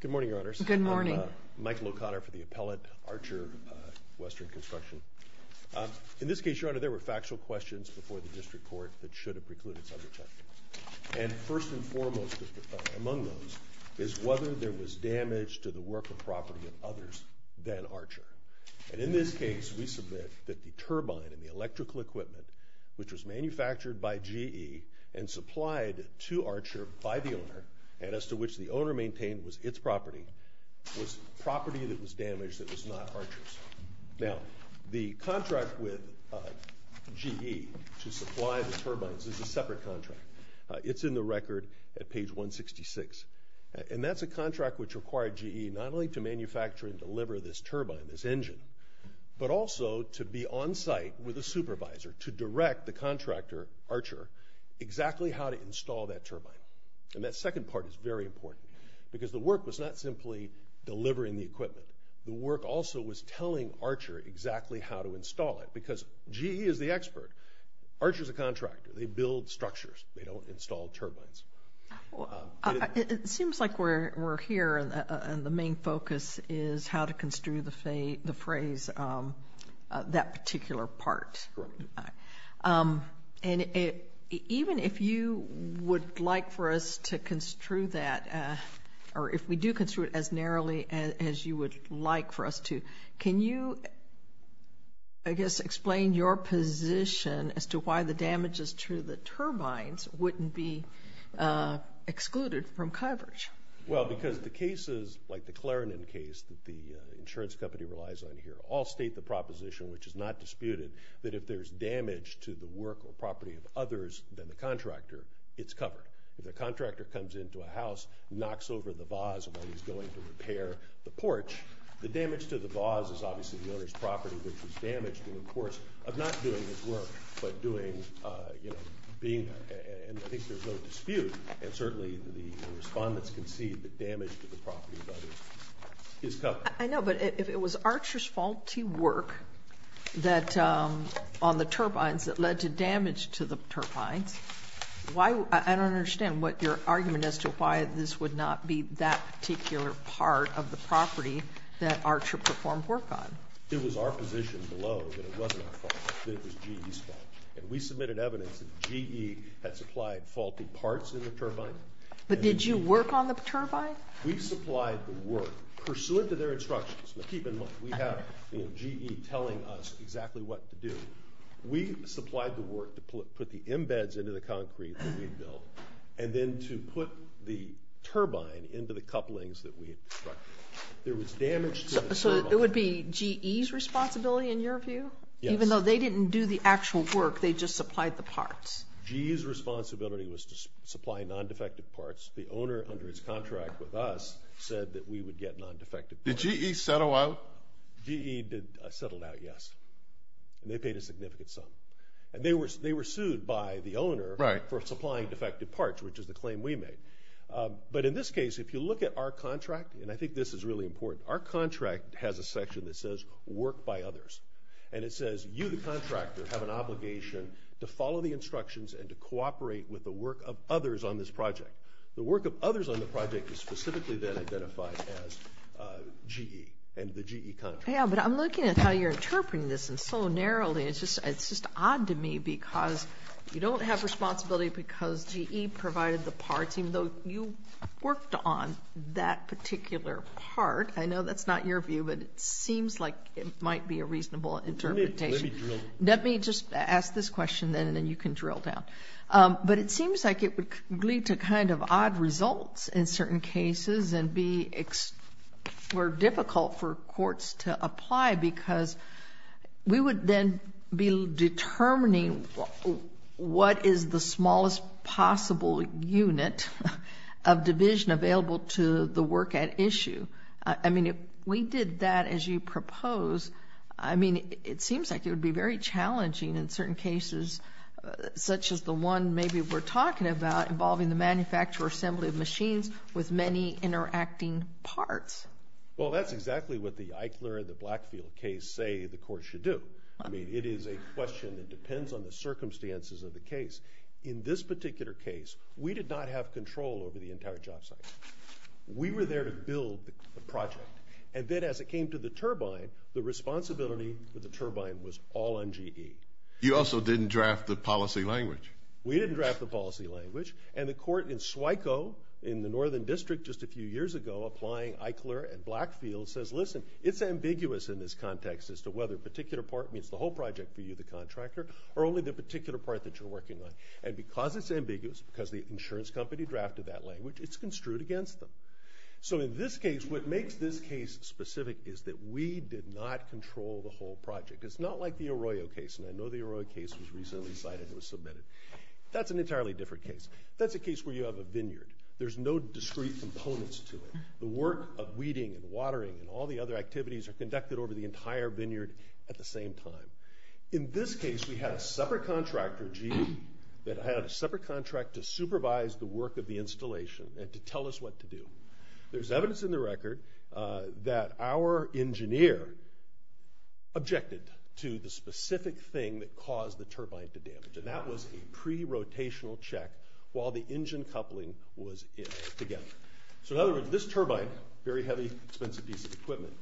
Good morning, Your Honors. Good morning. I'm Michael O'Connor for the appellate Archer Western Construction. In this case, Your Honor, there were factual questions before the district court that should have precluded such a check. And first and foremost among those is whether there was damage to the work or property of others than Archer. And in this case, we submit that the turbine and the electrical equipment, which was manufactured by GE and supplied to Archer by the owner and as to which the owner maintained was its property, was property that was damaged that was not Archer's. Now, the contract with GE to supply the turbines is a separate contract. It's in the record at page 166. And that's a contract which required GE not only to manufacture and deliver this turbine, this engine, but also to be on site with a supervisor to direct the contractor, Archer, exactly how to install that turbine. And that second part is very important because the work was not simply delivering the equipment. The work also was telling Archer exactly how to install it because GE is the expert. Archer's a contractor. They build structures. They don't install turbines. It seems like we're here and the main focus is how to construe the phrase, that particular part. And even if you would like for us to construe that, or if we do construe it as narrowly as you would like for us to, can you, I guess, explain your position as to why the damages to the turbines wouldn't be excluded from coverage? Well, because the cases like the Clarendon case that the insurance company relies on here all state the proposition, which is not disputed, that if there's damage to the work or property of others than the contractor, it's covered. If the contractor comes into a house, knocks over the vase while he's going to repair the porch, the damage to the vase is obviously the owner's property, which is damaged in the course of not doing his work, but doing, you know, being, and I think there's no dispute, and certainly the respondents can see the damage to the property of others is covered. I know, but if it was Archer's faulty work that, on the turbines, that led to damage to the turbines, I don't understand your argument as to why this would not be that particular part of the property that Archer performed work on. It was our position below that it wasn't our fault, that it was GE's fault, and we submitted evidence that GE had supplied faulty parts in the turbine. But did you work on the turbine? We supplied the work pursuant to their instructions. Now, keep in mind, we have, you know, GE telling us exactly what to do. We supplied the work to put the embeds into the concrete that we built, and then to put the turbine into the couplings that we had constructed. There was damage to the turbine. So it would be GE's responsibility, in your view? Yes. Even though they didn't do the actual work, they just supplied the parts. GE's responsibility was to supply non-defective parts. The owner, under his contract with us, said that we would get non-defective parts. Did GE settle out? GE settled out, yes. And they paid a significant sum. And they were sued by the owner for supplying defective parts, which is the claim we made. But in this case, if you look at our contract, and I think this is really important, our contract has a section that says work by others. And it says you, the contractor, have an obligation to follow the instructions and to cooperate with the work of others on this project. The work of others on the project is specifically then identified as GE and the GE contract. But I'm looking at how you're interpreting this so narrowly. It's just odd to me because you don't have responsibility because GE provided the parts, even though you worked on that particular part. I know that's not your view, but it seems like it might be a reasonable interpretation. Let me just ask this question then, and then you can drill down. But it seems like it would lead to kind of odd results in certain cases and be difficult for courts to apply because we would then be determining what is the smallest possible unit of division available to the work at issue. I mean, if we did that as you propose, I mean, it seems like it would be very challenging in certain cases, such as the one maybe we're talking about involving the manufacturer assembly of machines with many interacting parts. Well, that's exactly what the Eichler and the Blackfield case say the court should do. I mean, it is a question that depends on the circumstances of the case. In this particular case, we did not have control over the entire job site. We were there to build the project, and then as it came to the turbine, the responsibility for the turbine was all on GE. You also didn't draft the policy language. We didn't draft the policy language, and the court in SWICO in the northern district just a few years ago applying Eichler and Blackfield says, listen, it's ambiguous in this context as to whether a particular part means the whole project for you, the contractor, or only the particular part that you're working on. And because it's ambiguous, because the insurance company drafted that language, it's construed against them. So in this case, what makes this case specific is that we did not control the whole project. It's not like the Arroyo case, and I know the Arroyo case was recently cited and was submitted. That's an entirely different case. That's a case where you have a vineyard. There's no discrete components to it. The work of weeding and watering and all the other activities are conducted over the entire vineyard at the same time. In this case, we had a separate contractor, GE, that had a separate contract to supervise the work of the installation and to tell us what to do. There's evidence in the record that our engineer objected to the specific thing that caused the turbine to damage, and that was a pre-rotational check while the engine coupling was in together. So in other words, this turbine, very heavy, expensive piece of equipment,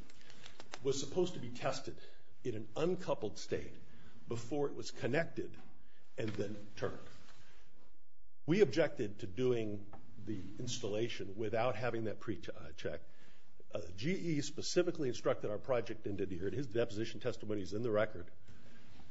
was supposed to be tested in an uncoupled state before it was connected and then turned. We objected to doing the installation without having that pre-check. GE specifically instructed our project engineer, and his deposition testimony is in the record,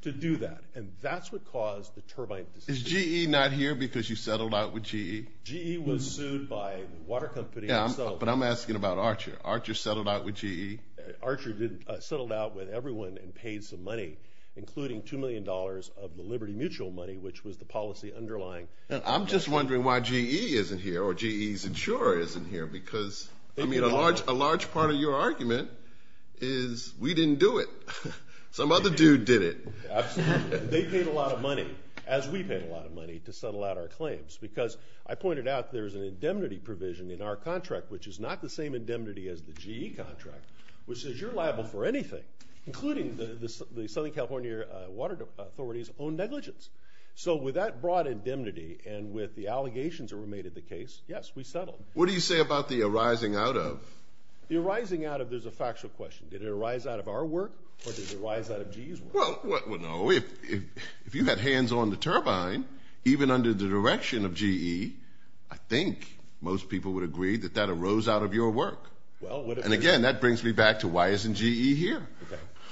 to do that, and that's what caused the turbine. Is GE not here because you settled out with GE? GE was sued by a water company. Yeah, but I'm asking about Archer. Archer settled out with GE? Archer settled out with everyone and paid some money, including $2 million of the Liberty Mutual money, which was the policy underlying. I'm just wondering why GE isn't here, or GE's insurer isn't here, because, I mean, a large part of your argument is we didn't do it. Some other dude did it. They paid a lot of money, as we paid a lot of money, to settle out our claims, because I pointed out there's an indemnity provision in our contract, which is not the same indemnity as the GE contract, which says you're liable for anything, including the Southern California Water Authority's own negligence. So with that broad indemnity and with the allegations that were made of the case, yes, we settled. What do you say about the arising out of? The arising out of, there's a factual question. Did it arise out of our work, or did it arise out of GE's work? Well, no, if you had hands on the turbine, even under the direction of GE, I think most people would agree that that arose out of your work. And, again, that brings me back to why isn't GE here?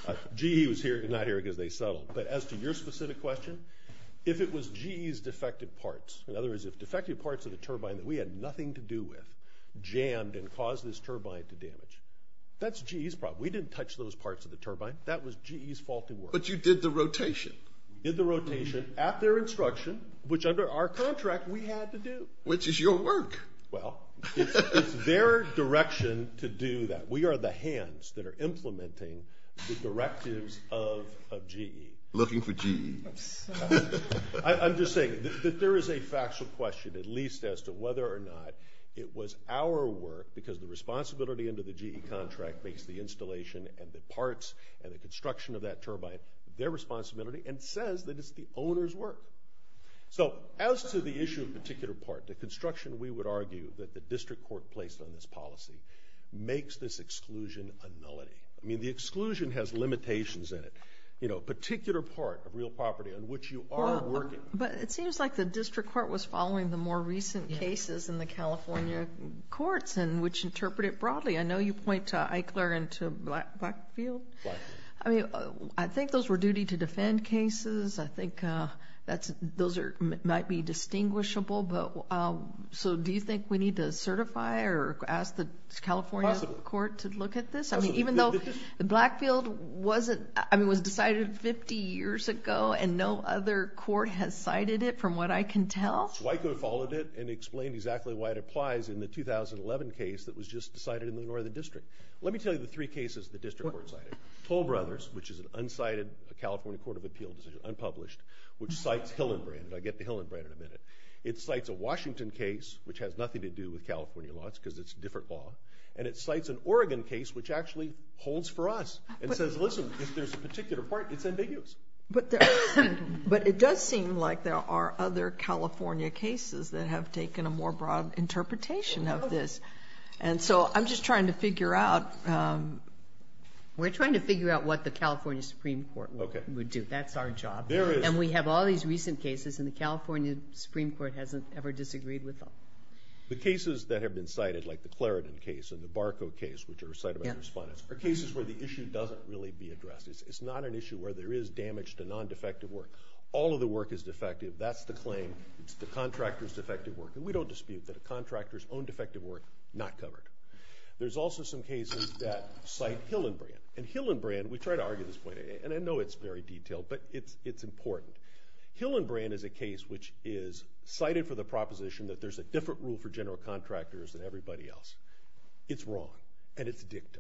Okay. GE was not here because they settled. But as to your specific question, if it was GE's defective parts, in other words, if defective parts of the turbine that we had nothing to do with jammed and caused this turbine to damage, that's GE's problem. We didn't touch those parts of the turbine. That was GE's faulty work. But you did the rotation. Did the rotation at their instruction, which under our contract we had to do. Which is your work. Well, it's their direction to do that. We are the hands that are implementing the directives of GE. Looking for GE. I'm just saying that there is a factual question, at least as to whether or not it was our work, because the responsibility under the GE contract makes the installation and the parts and the construction of that turbine their responsibility, and says that it's the owner's work. So as to the issue of particular part, the construction we would argue that the district court placed on this policy makes this exclusion a nullity. I mean, the exclusion has limitations in it. You know, a particular part of real property on which you are working. But it seems like the district court was following the more recent cases in the California courts, and which interpret it broadly. I know you point to Eichler and to Blackfield. I mean, I think those were duty-to-defend cases. I think those might be distinguishable. So do you think we need to certify or ask the California court to look at this? I mean, even though Blackfield was decided 50 years ago, and no other court has cited it, from what I can tell. So Eichler followed it and explained exactly why it applies in the 2011 case that was just decided in the northern district. Let me tell you the three cases the district court cited. Toll Brothers, which is an unsighted California court of appeal decision, unpublished, which cites Hillenbrand, and I'll get to Hillenbrand in a minute. It cites a Washington case, which has nothing to do with California laws because it's a different law. And it cites an Oregon case, which actually holds for us and says, listen, if there's a particular part, it's ambiguous. But it does seem like there are other California cases that have taken a more broad interpretation of this. And so I'm just trying to figure out. We're trying to figure out what the California Supreme Court would do. That's our job. And we have all these recent cases, and the California Supreme Court hasn't ever disagreed with them. The cases that have been cited, like the Clarendon case and the Barco case, which are cited by the respondents, are cases where the issue doesn't really be addressed. It's not an issue where there is damage to non-defective work. All of the work is defective. That's the claim. It's the contractor's defective work. And we don't dispute that a contractor's own defective work is not covered. There's also some cases that cite Hillenbrand. And Hillenbrand, we try to argue this point. And I know it's very detailed, but it's important. Hillenbrand is a case which is cited for the proposition that there's a different rule for general contractors than everybody else. It's wrong, and it's dicta.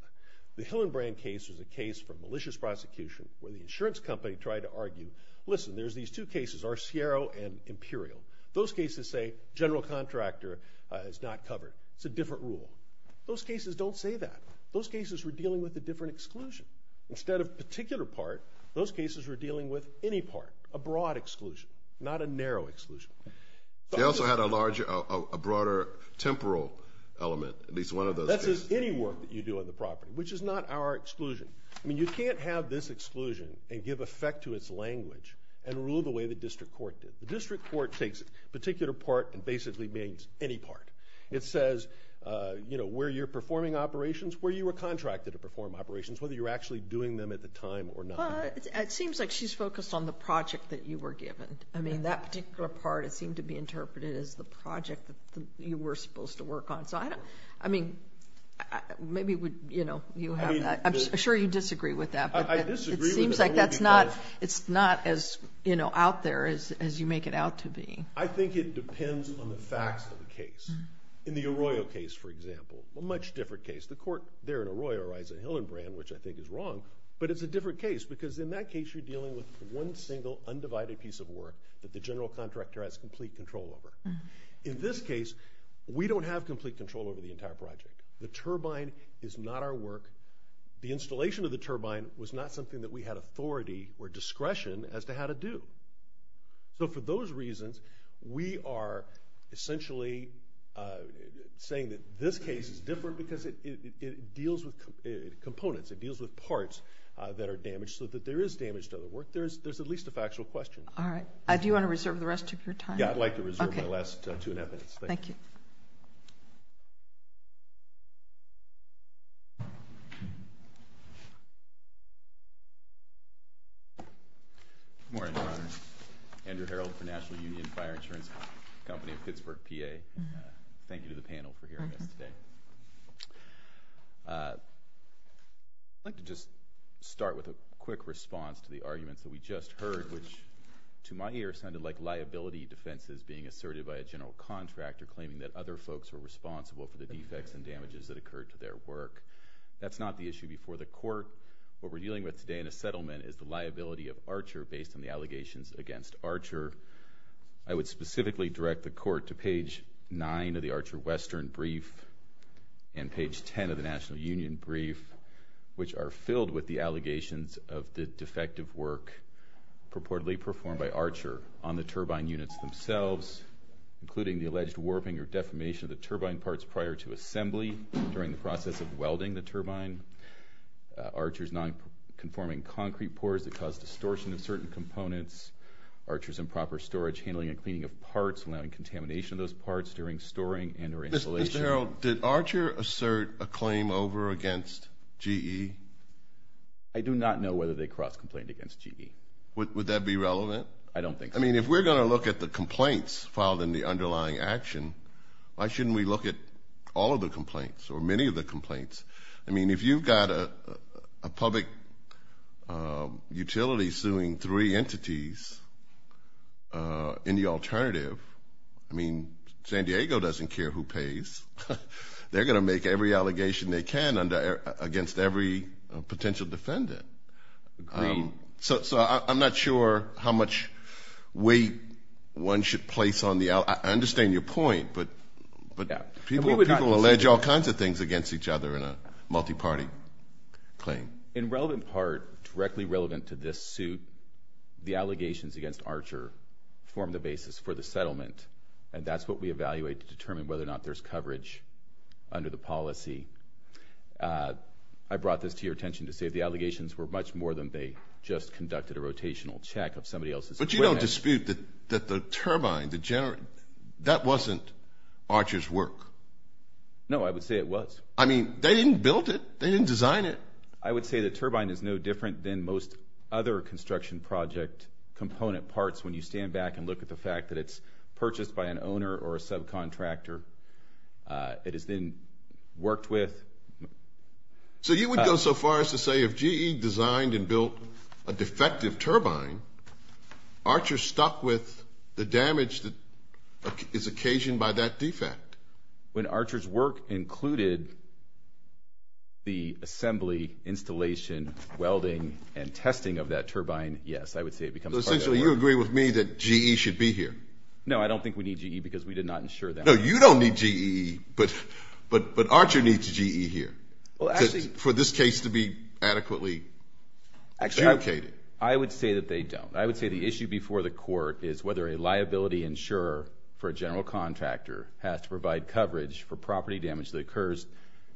The Hillenbrand case was a case for malicious prosecution where the insurance company tried to argue, listen, there's these two cases, Arciero and Imperial. Those cases say general contractor is not covered. It's a different rule. Those cases don't say that. Those cases were dealing with a different exclusion. Instead of a particular part, those cases were dealing with any part, a broad exclusion, not a narrow exclusion. They also had a larger, a broader temporal element, at least one of those cases. That says any work that you do on the property, which is not our exclusion. I mean, you can't have this exclusion and give effect to its language and rule the way the district court did. The district court takes a particular part and basically means any part. It says, you know, where you're performing operations, where you were contracted to perform operations, whether you were actually doing them at the time or not. But it seems like she's focused on the project that you were given. I mean, that particular part, it seemed to be interpreted as the project that you were supposed to work on. So, I mean, maybe, you know, I'm sure you disagree with that. It seems like that's not as, you know, out there as you make it out to be. I think it depends on the facts of the case. In the Arroyo case, for example, a much different case. The court there in Arroyo writes a Hillenbrand, which I think is wrong, but it's a different case because in that case, you're dealing with one single undivided piece of work that the general contractor has complete control over. In this case, we don't have complete control over the entire project. The turbine is not our work. The installation of the turbine was not something that we had authority or discretion as to how to do. So for those reasons, we are essentially saying that this case is different because it deals with components. It deals with parts that are damaged so that there is damage to other work. There's at least a factual question. All right. Do you want to reserve the rest of your time? Yeah, I'd like to reserve my last two and a half minutes. Thank you. Good morning, Your Honor. Andrew Herold for National Union Fire Insurance Company of Pittsburgh, PA. Thank you to the panel for hearing us today. I'd like to just start with a quick response to the arguments that we just heard, which to my ear sounded like liability defenses being asserted by a general contractor claiming that other folks were responsible for the defects and damages that occurred to their work. That's not the issue before the court. What we're dealing with today in a settlement is the liability of Archer based on the allegations against Archer. I would specifically direct the court to page 9 of the Archer-Western brief and page 10 of the National Union brief, which are filled with the allegations of the defective work purportedly performed by Archer on the turbine units themselves, including the alleged warping or defamation of the turbine parts prior to assembly during the process of welding the turbine, Archer's nonconforming concrete pours that cause distortion of certain components, Archer's improper storage, handling and cleaning of parts, allowing contamination of those parts during storing and or installation. Mr. Herold, did Archer assert a claim over against GE? I do not know whether they cross-complained against GE. Would that be relevant? I don't think so. I mean, if we're going to look at the complaints filed in the underlying action, why shouldn't we look at all of the complaints or many of the complaints? I mean, if you've got a public utility suing three entities in the alternative, I mean, San Diego doesn't care who pays. They're going to make every allegation they can against every potential defendant. So I'm not sure how much weight one should place on the other. I understand your point, but people allege all kinds of things against each other in a multi-party claim. In relevant part, directly relevant to this suit, the allegations against Archer form the basis for the settlement, and that's what we evaluate to determine whether or not there's coverage under the policy. I brought this to your attention to say the allegations were much more than they just conducted a rotational check of somebody else's equipment. But you don't dispute that the turbine, the generator, that wasn't Archer's work? No, I would say it was. I mean, they didn't build it. They didn't design it. I would say the turbine is no different than most other construction project component parts when you stand back and look at the fact that it's purchased by an owner or a subcontractor. It has been worked with. So you would go so far as to say if GE designed and built a defective turbine, Archer stuck with the damage that is occasioned by that defect? When Archer's work included the assembly, installation, welding, and testing of that turbine, yes. I would say it becomes part of that work. So essentially you agree with me that GE should be here? No, I don't think we need GE because we did not insure them. No, you don't need GE, but Archer needs GE here for this case to be adequately adjudicated. I would say that they don't. I would say the issue before the court is whether a liability insurer for a general contractor has to provide coverage for property damage that occurs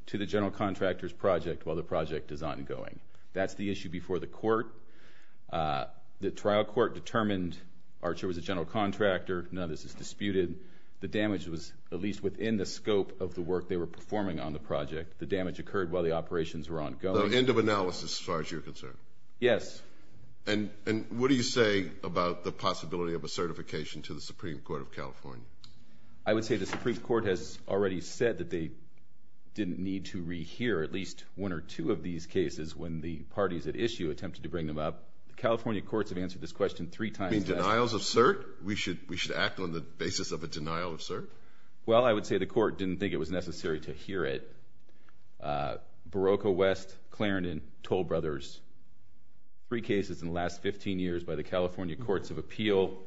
to the general contractor's project while the project is ongoing. That's the issue before the court. The trial court determined Archer was a general contractor. None of this is disputed. The damage was at least within the scope of the work they were performing on the project. The damage occurred while the operations were ongoing. So end of analysis as far as you're concerned? Yes. And what do you say about the possibility of a certification to the Supreme Court of California? I would say the Supreme Court has already said that they didn't need to rehear at least one or two of these cases when the parties at issue attempted to bring them up. The California courts have answered this question three times now. Denials of cert? We should act on the basis of a denial of cert? Well, I would say the court didn't think it was necessary to hear it. Barocco, West, Clarendon, Toll Brothers, three cases in the last 15 years by the California courts of appeal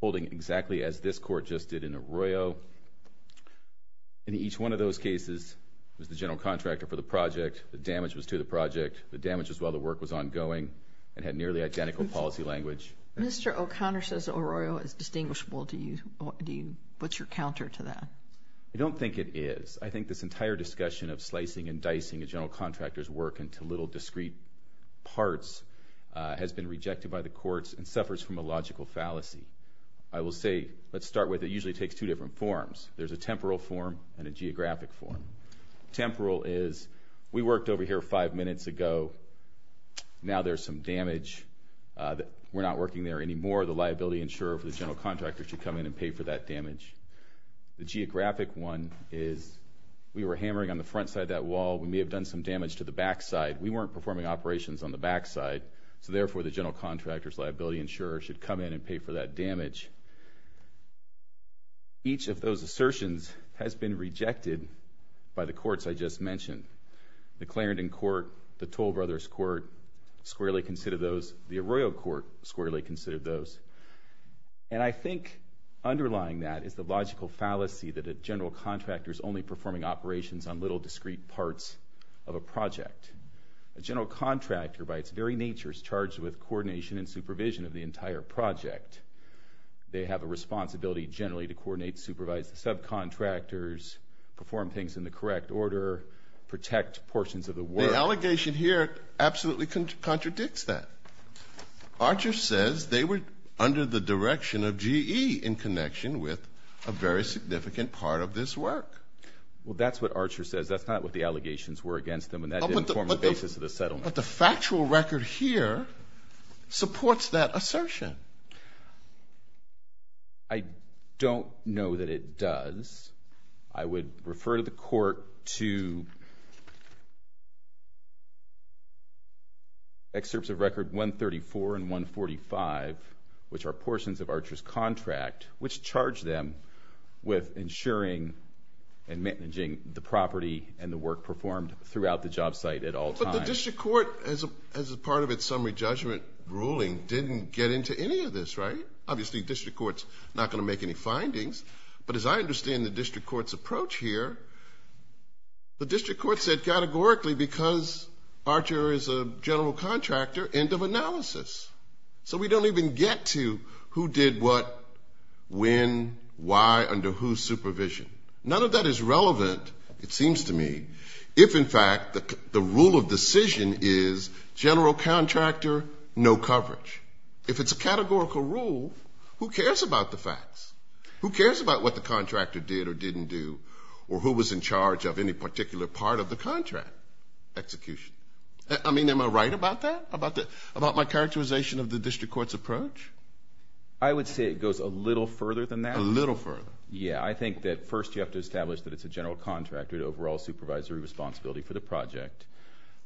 holding exactly as this court just did in Arroyo. In each one of those cases, it was the general contractor for the project, the damage was to the project, the damage was while the work was ongoing and had nearly identical policy language. Mr. O'Connor says Arroyo is distinguishable. What's your counter to that? I don't think it is. I think this entire discussion of slicing and dicing a general contractor's work into little discrete parts has been rejected by the courts and suffers from a logical fallacy. I will say, let's start with it usually takes two different forms. There's a temporal form and a geographic form. Temporal is we worked over here five minutes ago. Now there's some damage. We're not working there anymore. The liability insurer for the general contractor should come in and pay for that damage. The geographic one is we were hammering on the front side of that wall. We may have done some damage to the back side. We weren't performing operations on the back side, so therefore the general contractor's liability insurer should come in and pay for that damage. Each of those assertions has been rejected by the courts I just mentioned, the Clarendon Court, the Toll Brothers Court squarely considered those, the Arroyo Court squarely considered those. And I think underlying that is the logical fallacy that a general contractor is only performing operations on little discrete parts of a project. A general contractor by its very nature is charged with coordination and supervision of the entire project. They have a responsibility generally to coordinate, supervise the subcontractors, perform things in the correct order, protect portions of the work. The allegation here absolutely contradicts that. Archer says they were under the direction of GE in connection with a very significant part of this work. Well, that's what Archer says. That's not what the allegations were against them, and that didn't form the basis of the settlement. But the factual record here supports that assertion. I don't know that it does. I would refer to the court to excerpts of record 134 and 145, which are portions of Archer's contract, which charge them with ensuring and managing the property and the work performed throughout the job site at all times. But the district court, as a part of its summary judgment ruling, didn't get into any of this, right? Obviously the district court's not going to make any findings. But as I understand the district court's approach here, the district court said categorically because Archer is a general contractor, end of analysis. So we don't even get to who did what, when, why, under whose supervision. None of that is relevant, it seems to me, if in fact the rule of decision is general contractor, no coverage. Who cares about what the contractor did or didn't do or who was in charge of any particular part of the contract execution? I mean, am I right about that, about my characterization of the district court's approach? I would say it goes a little further than that. A little further. Yeah, I think that first you have to establish that it's a general contractor to overall supervisory responsibility for the project.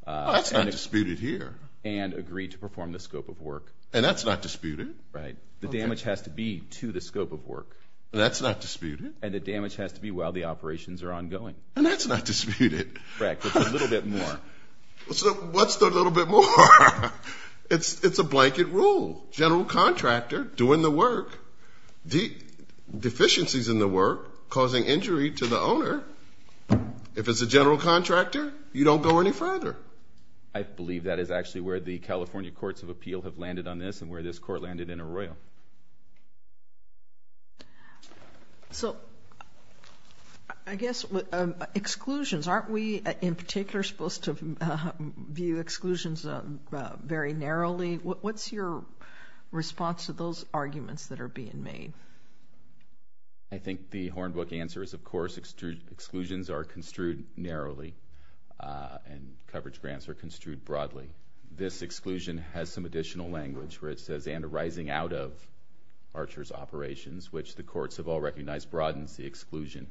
That's not disputed here. And agree to perform the scope of work. And that's not disputed. Right. The damage has to be to the scope of work. That's not disputed. And the damage has to be while the operations are ongoing. And that's not disputed. Right, but a little bit more. What's the little bit more? It's a blanket rule. General contractor doing the work, deficiencies in the work, causing injury to the owner. If it's a general contractor, you don't go any further. I believe that is actually where the California Courts of Appeal have landed on this and where this court landed in Arroyo. So I guess exclusions, aren't we in particular supposed to view exclusions very narrowly? What's your response to those arguments that are being made? I think the Hornbook answer is, of course, exclusions are construed narrowly and coverage grants are construed broadly. This exclusion has some additional language where it says, and arising out of Archer's operations, which the courts have all recognized broadens the exclusion.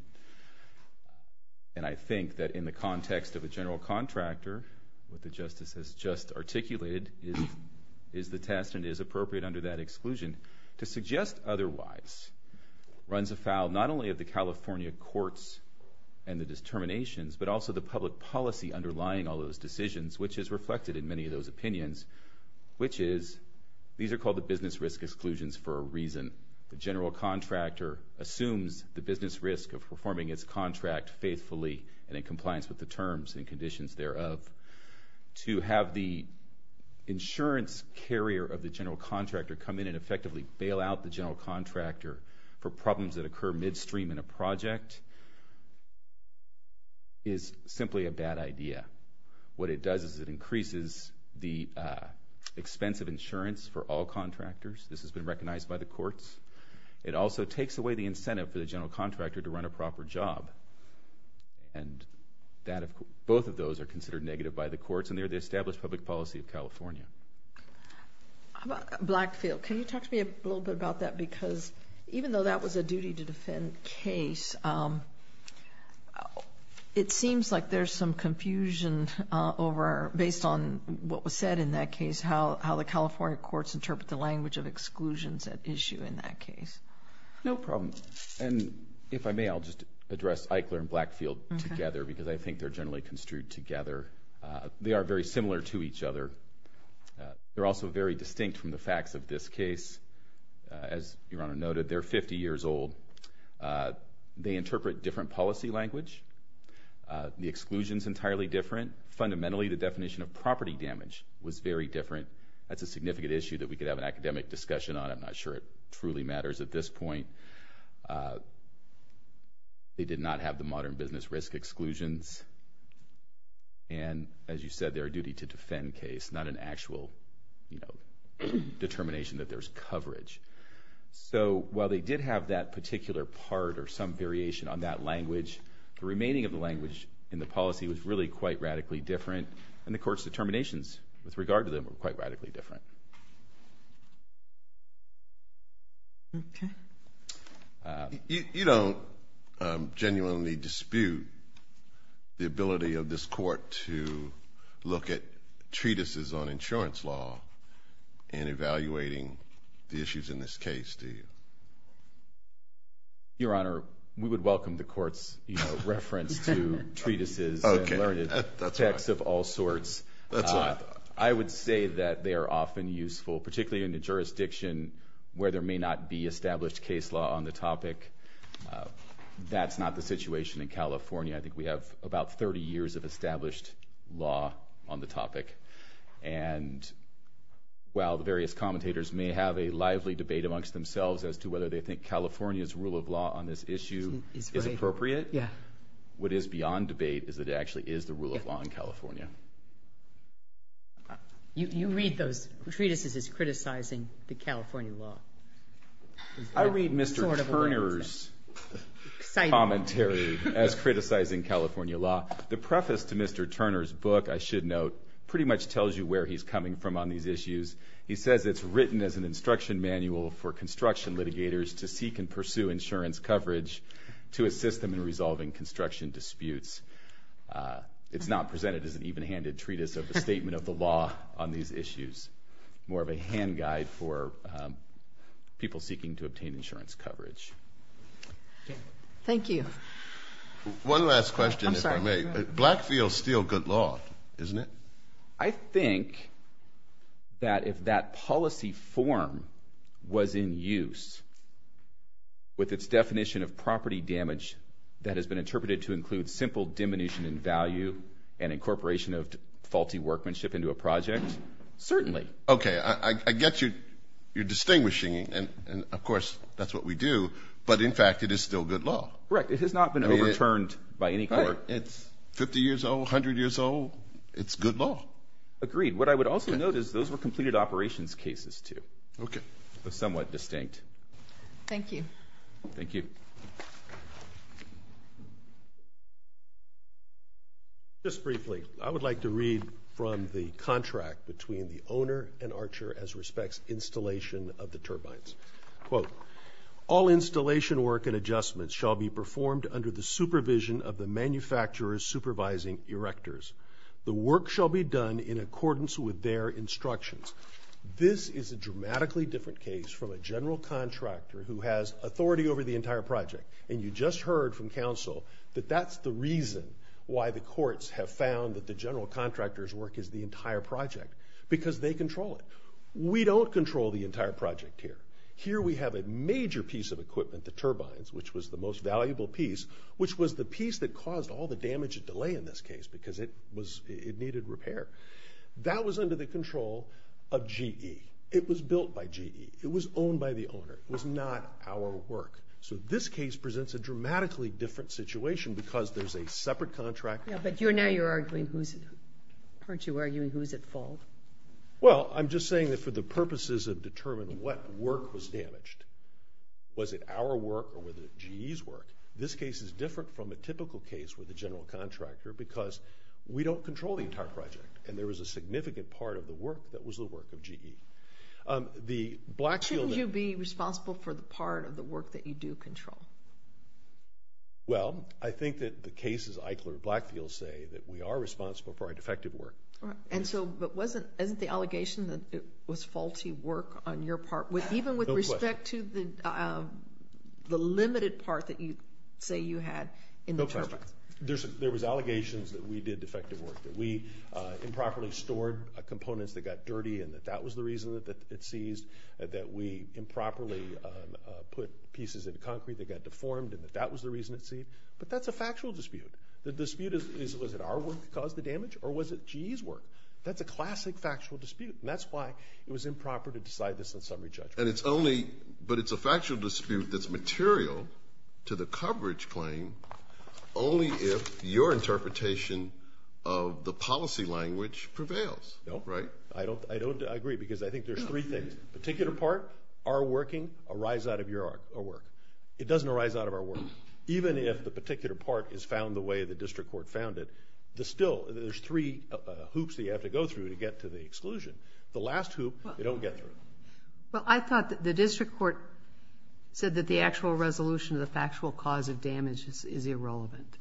And I think that in the context of a general contractor, what the Justice has just articulated is the test and is appropriate under that exclusion. To suggest otherwise runs afoul not only of the California courts and the determinations, but also the public policy underlying all those decisions, which is reflected in many of those opinions, which is these are called the business risk exclusions for a reason. The general contractor assumes the business risk of performing its contract faithfully and in compliance with the terms and conditions thereof. To have the insurance carrier of the general contractor come in and effectively bail out the general contractor for problems that occur midstream in a project, is simply a bad idea. What it does is it increases the expense of insurance for all contractors. This has been recognized by the courts. It also takes away the incentive for the general contractor to run a proper job, and both of those are considered negative by the courts, and they're the established public policy of California. How about Blackfield? Can you talk to me a little bit about that? Because even though that was a duty-to-defend case, it seems like there's some confusion based on what was said in that case, how the California courts interpret the language of exclusions at issue in that case. No problem. And if I may, I'll just address Eichler and Blackfield together because I think they're generally construed together. They are very similar to each other. They're also very distinct from the facts of this case. As Your Honor noted, they're 50 years old. They interpret different policy language. The exclusion is entirely different. Fundamentally, the definition of property damage was very different. That's a significant issue that we could have an academic discussion on. I'm not sure it truly matters at this point. They did not have the modern business risk exclusions, and as you said, they're a duty-to-defend case, not an actual determination that there's coverage. So while they did have that particular part or some variation on that language, the remaining of the language in the policy was really quite radically different, and the court's determinations with regard to them were quite radically different. Okay. You don't genuinely dispute the ability of this court to look at treatises on insurance law in evaluating the issues in this case, do you? Your Honor, we would welcome the court's reference to treatises and learned texts of all sorts. I would say that they are often useful, particularly in a jurisdiction where there may not be established case law on the topic. That's not the situation in California. I think we have about 30 years of established law on the topic, and while the various commentators may have a lively debate amongst themselves as to whether they think California's rule of law on this issue is appropriate, what is beyond debate is that it actually is the rule of law in California. You read those treatises as criticizing the California law. I read Mr. Turner's commentary as criticizing California law. The preface to Mr. Turner's book, I should note, pretty much tells you where he's coming from on these issues. He says it's written as an instruction manual for construction litigators to seek and pursue insurance coverage to assist them in resolving construction disputes. It's not presented as an even-handed treatise of the statement of the law on these issues, more of a hand guide for people seeking to obtain insurance coverage. Thank you. One last question, if I may. Blackfields steal good law, isn't it? I think that if that policy form was in use with its definition of property damage that has been interpreted to include simple diminution in value and incorporation of faulty workmanship into a project, certainly. Okay, I get you're distinguishing, and of course that's what we do, but in fact it is still good law. Correct, it has not been overturned by any court. It's 50 years old, 100 years old. It's good law. Agreed. What I would also note is those were completed operations cases, too. Okay. It was somewhat distinct. Thank you. Thank you. Just briefly, I would like to read from the contract between the owner and Archer as respects installation of the turbines. Quote, all installation work and adjustments shall be performed under the supervision of the manufacturer's supervising erectors. The work shall be done in accordance with their instructions. This is a dramatically different case from a general contractor who has authority over the entire project, and you just heard from counsel that that's the reason why the courts have found that the general contractor's work is the entire project, because they control it. We don't control the entire project here. Here we have a major piece of equipment, the turbines, which was the most valuable piece, which was the piece that caused all the damage and delay in this case because it needed repair. That was under the control of GE. It was built by GE. It was owned by the owner. It was not our work. So this case presents a dramatically different situation because there's a separate contractor. Yeah, but now you're arguing who's at fault. Well, I'm just saying that for the purposes of determining what work was damaged, was it our work or was it GE's work, this case is different from a typical case with a general contractor because we don't control the entire project, and there was a significant part of the work that was the work of GE. Shouldn't you be responsible for the part of the work that you do control? Well, I think that the cases Eichler and Blackfield say that we are responsible for our defective work. And so isn't the allegation that it was faulty work on your part, even with respect to the limited part that you say you had in the turbine? No question. There was allegations that we did defective work, that we improperly stored components that got dirty and that that was the reason that it seized, that we improperly put pieces in concrete that got deformed and that that was the reason it seized. But that's a factual dispute. The dispute is was it our work that caused the damage or was it GE's work? That's a classic factual dispute, and that's why it was improper to decide this in summary judgment. But it's a factual dispute that's material to the coverage claim only if your interpretation of the policy language prevails. No. Right? I don't agree because I think there's three things, particular part, our working, a rise out of your work. It doesn't arise out of our work. Even if the particular part is found the way the district court found it, still there's three hoops that you have to go through to get to the exclusion. The last hoop you don't get through. Well, I thought that the district court said that the actual resolution of the factual cause of damage is irrelevant,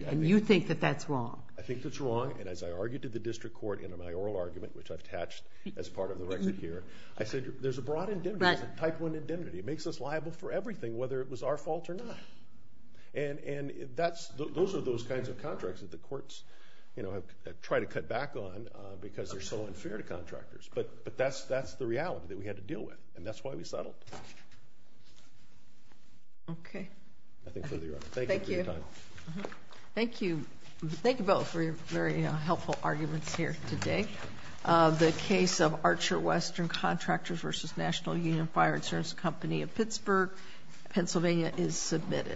and you think that that's wrong. I think that's wrong, and as I argued to the district court in my oral argument, which I've attached as part of the record here, I said there's a broad indemnity. There's a type one indemnity. It makes us liable for everything, whether it was our fault or not. And those are those kinds of contracts that the courts try to cut back on because they're so unfair to contractors. But that's the reality that we had to deal with, and that's why we settled. Okay. Nothing further, Your Honor. Thank you for your time. Thank you. Thank you both for your very helpful arguments here today. The case of Archer Western Contractors v. National Union Fire Insurance Company of Pittsburgh, Pennsylvania, is submitted.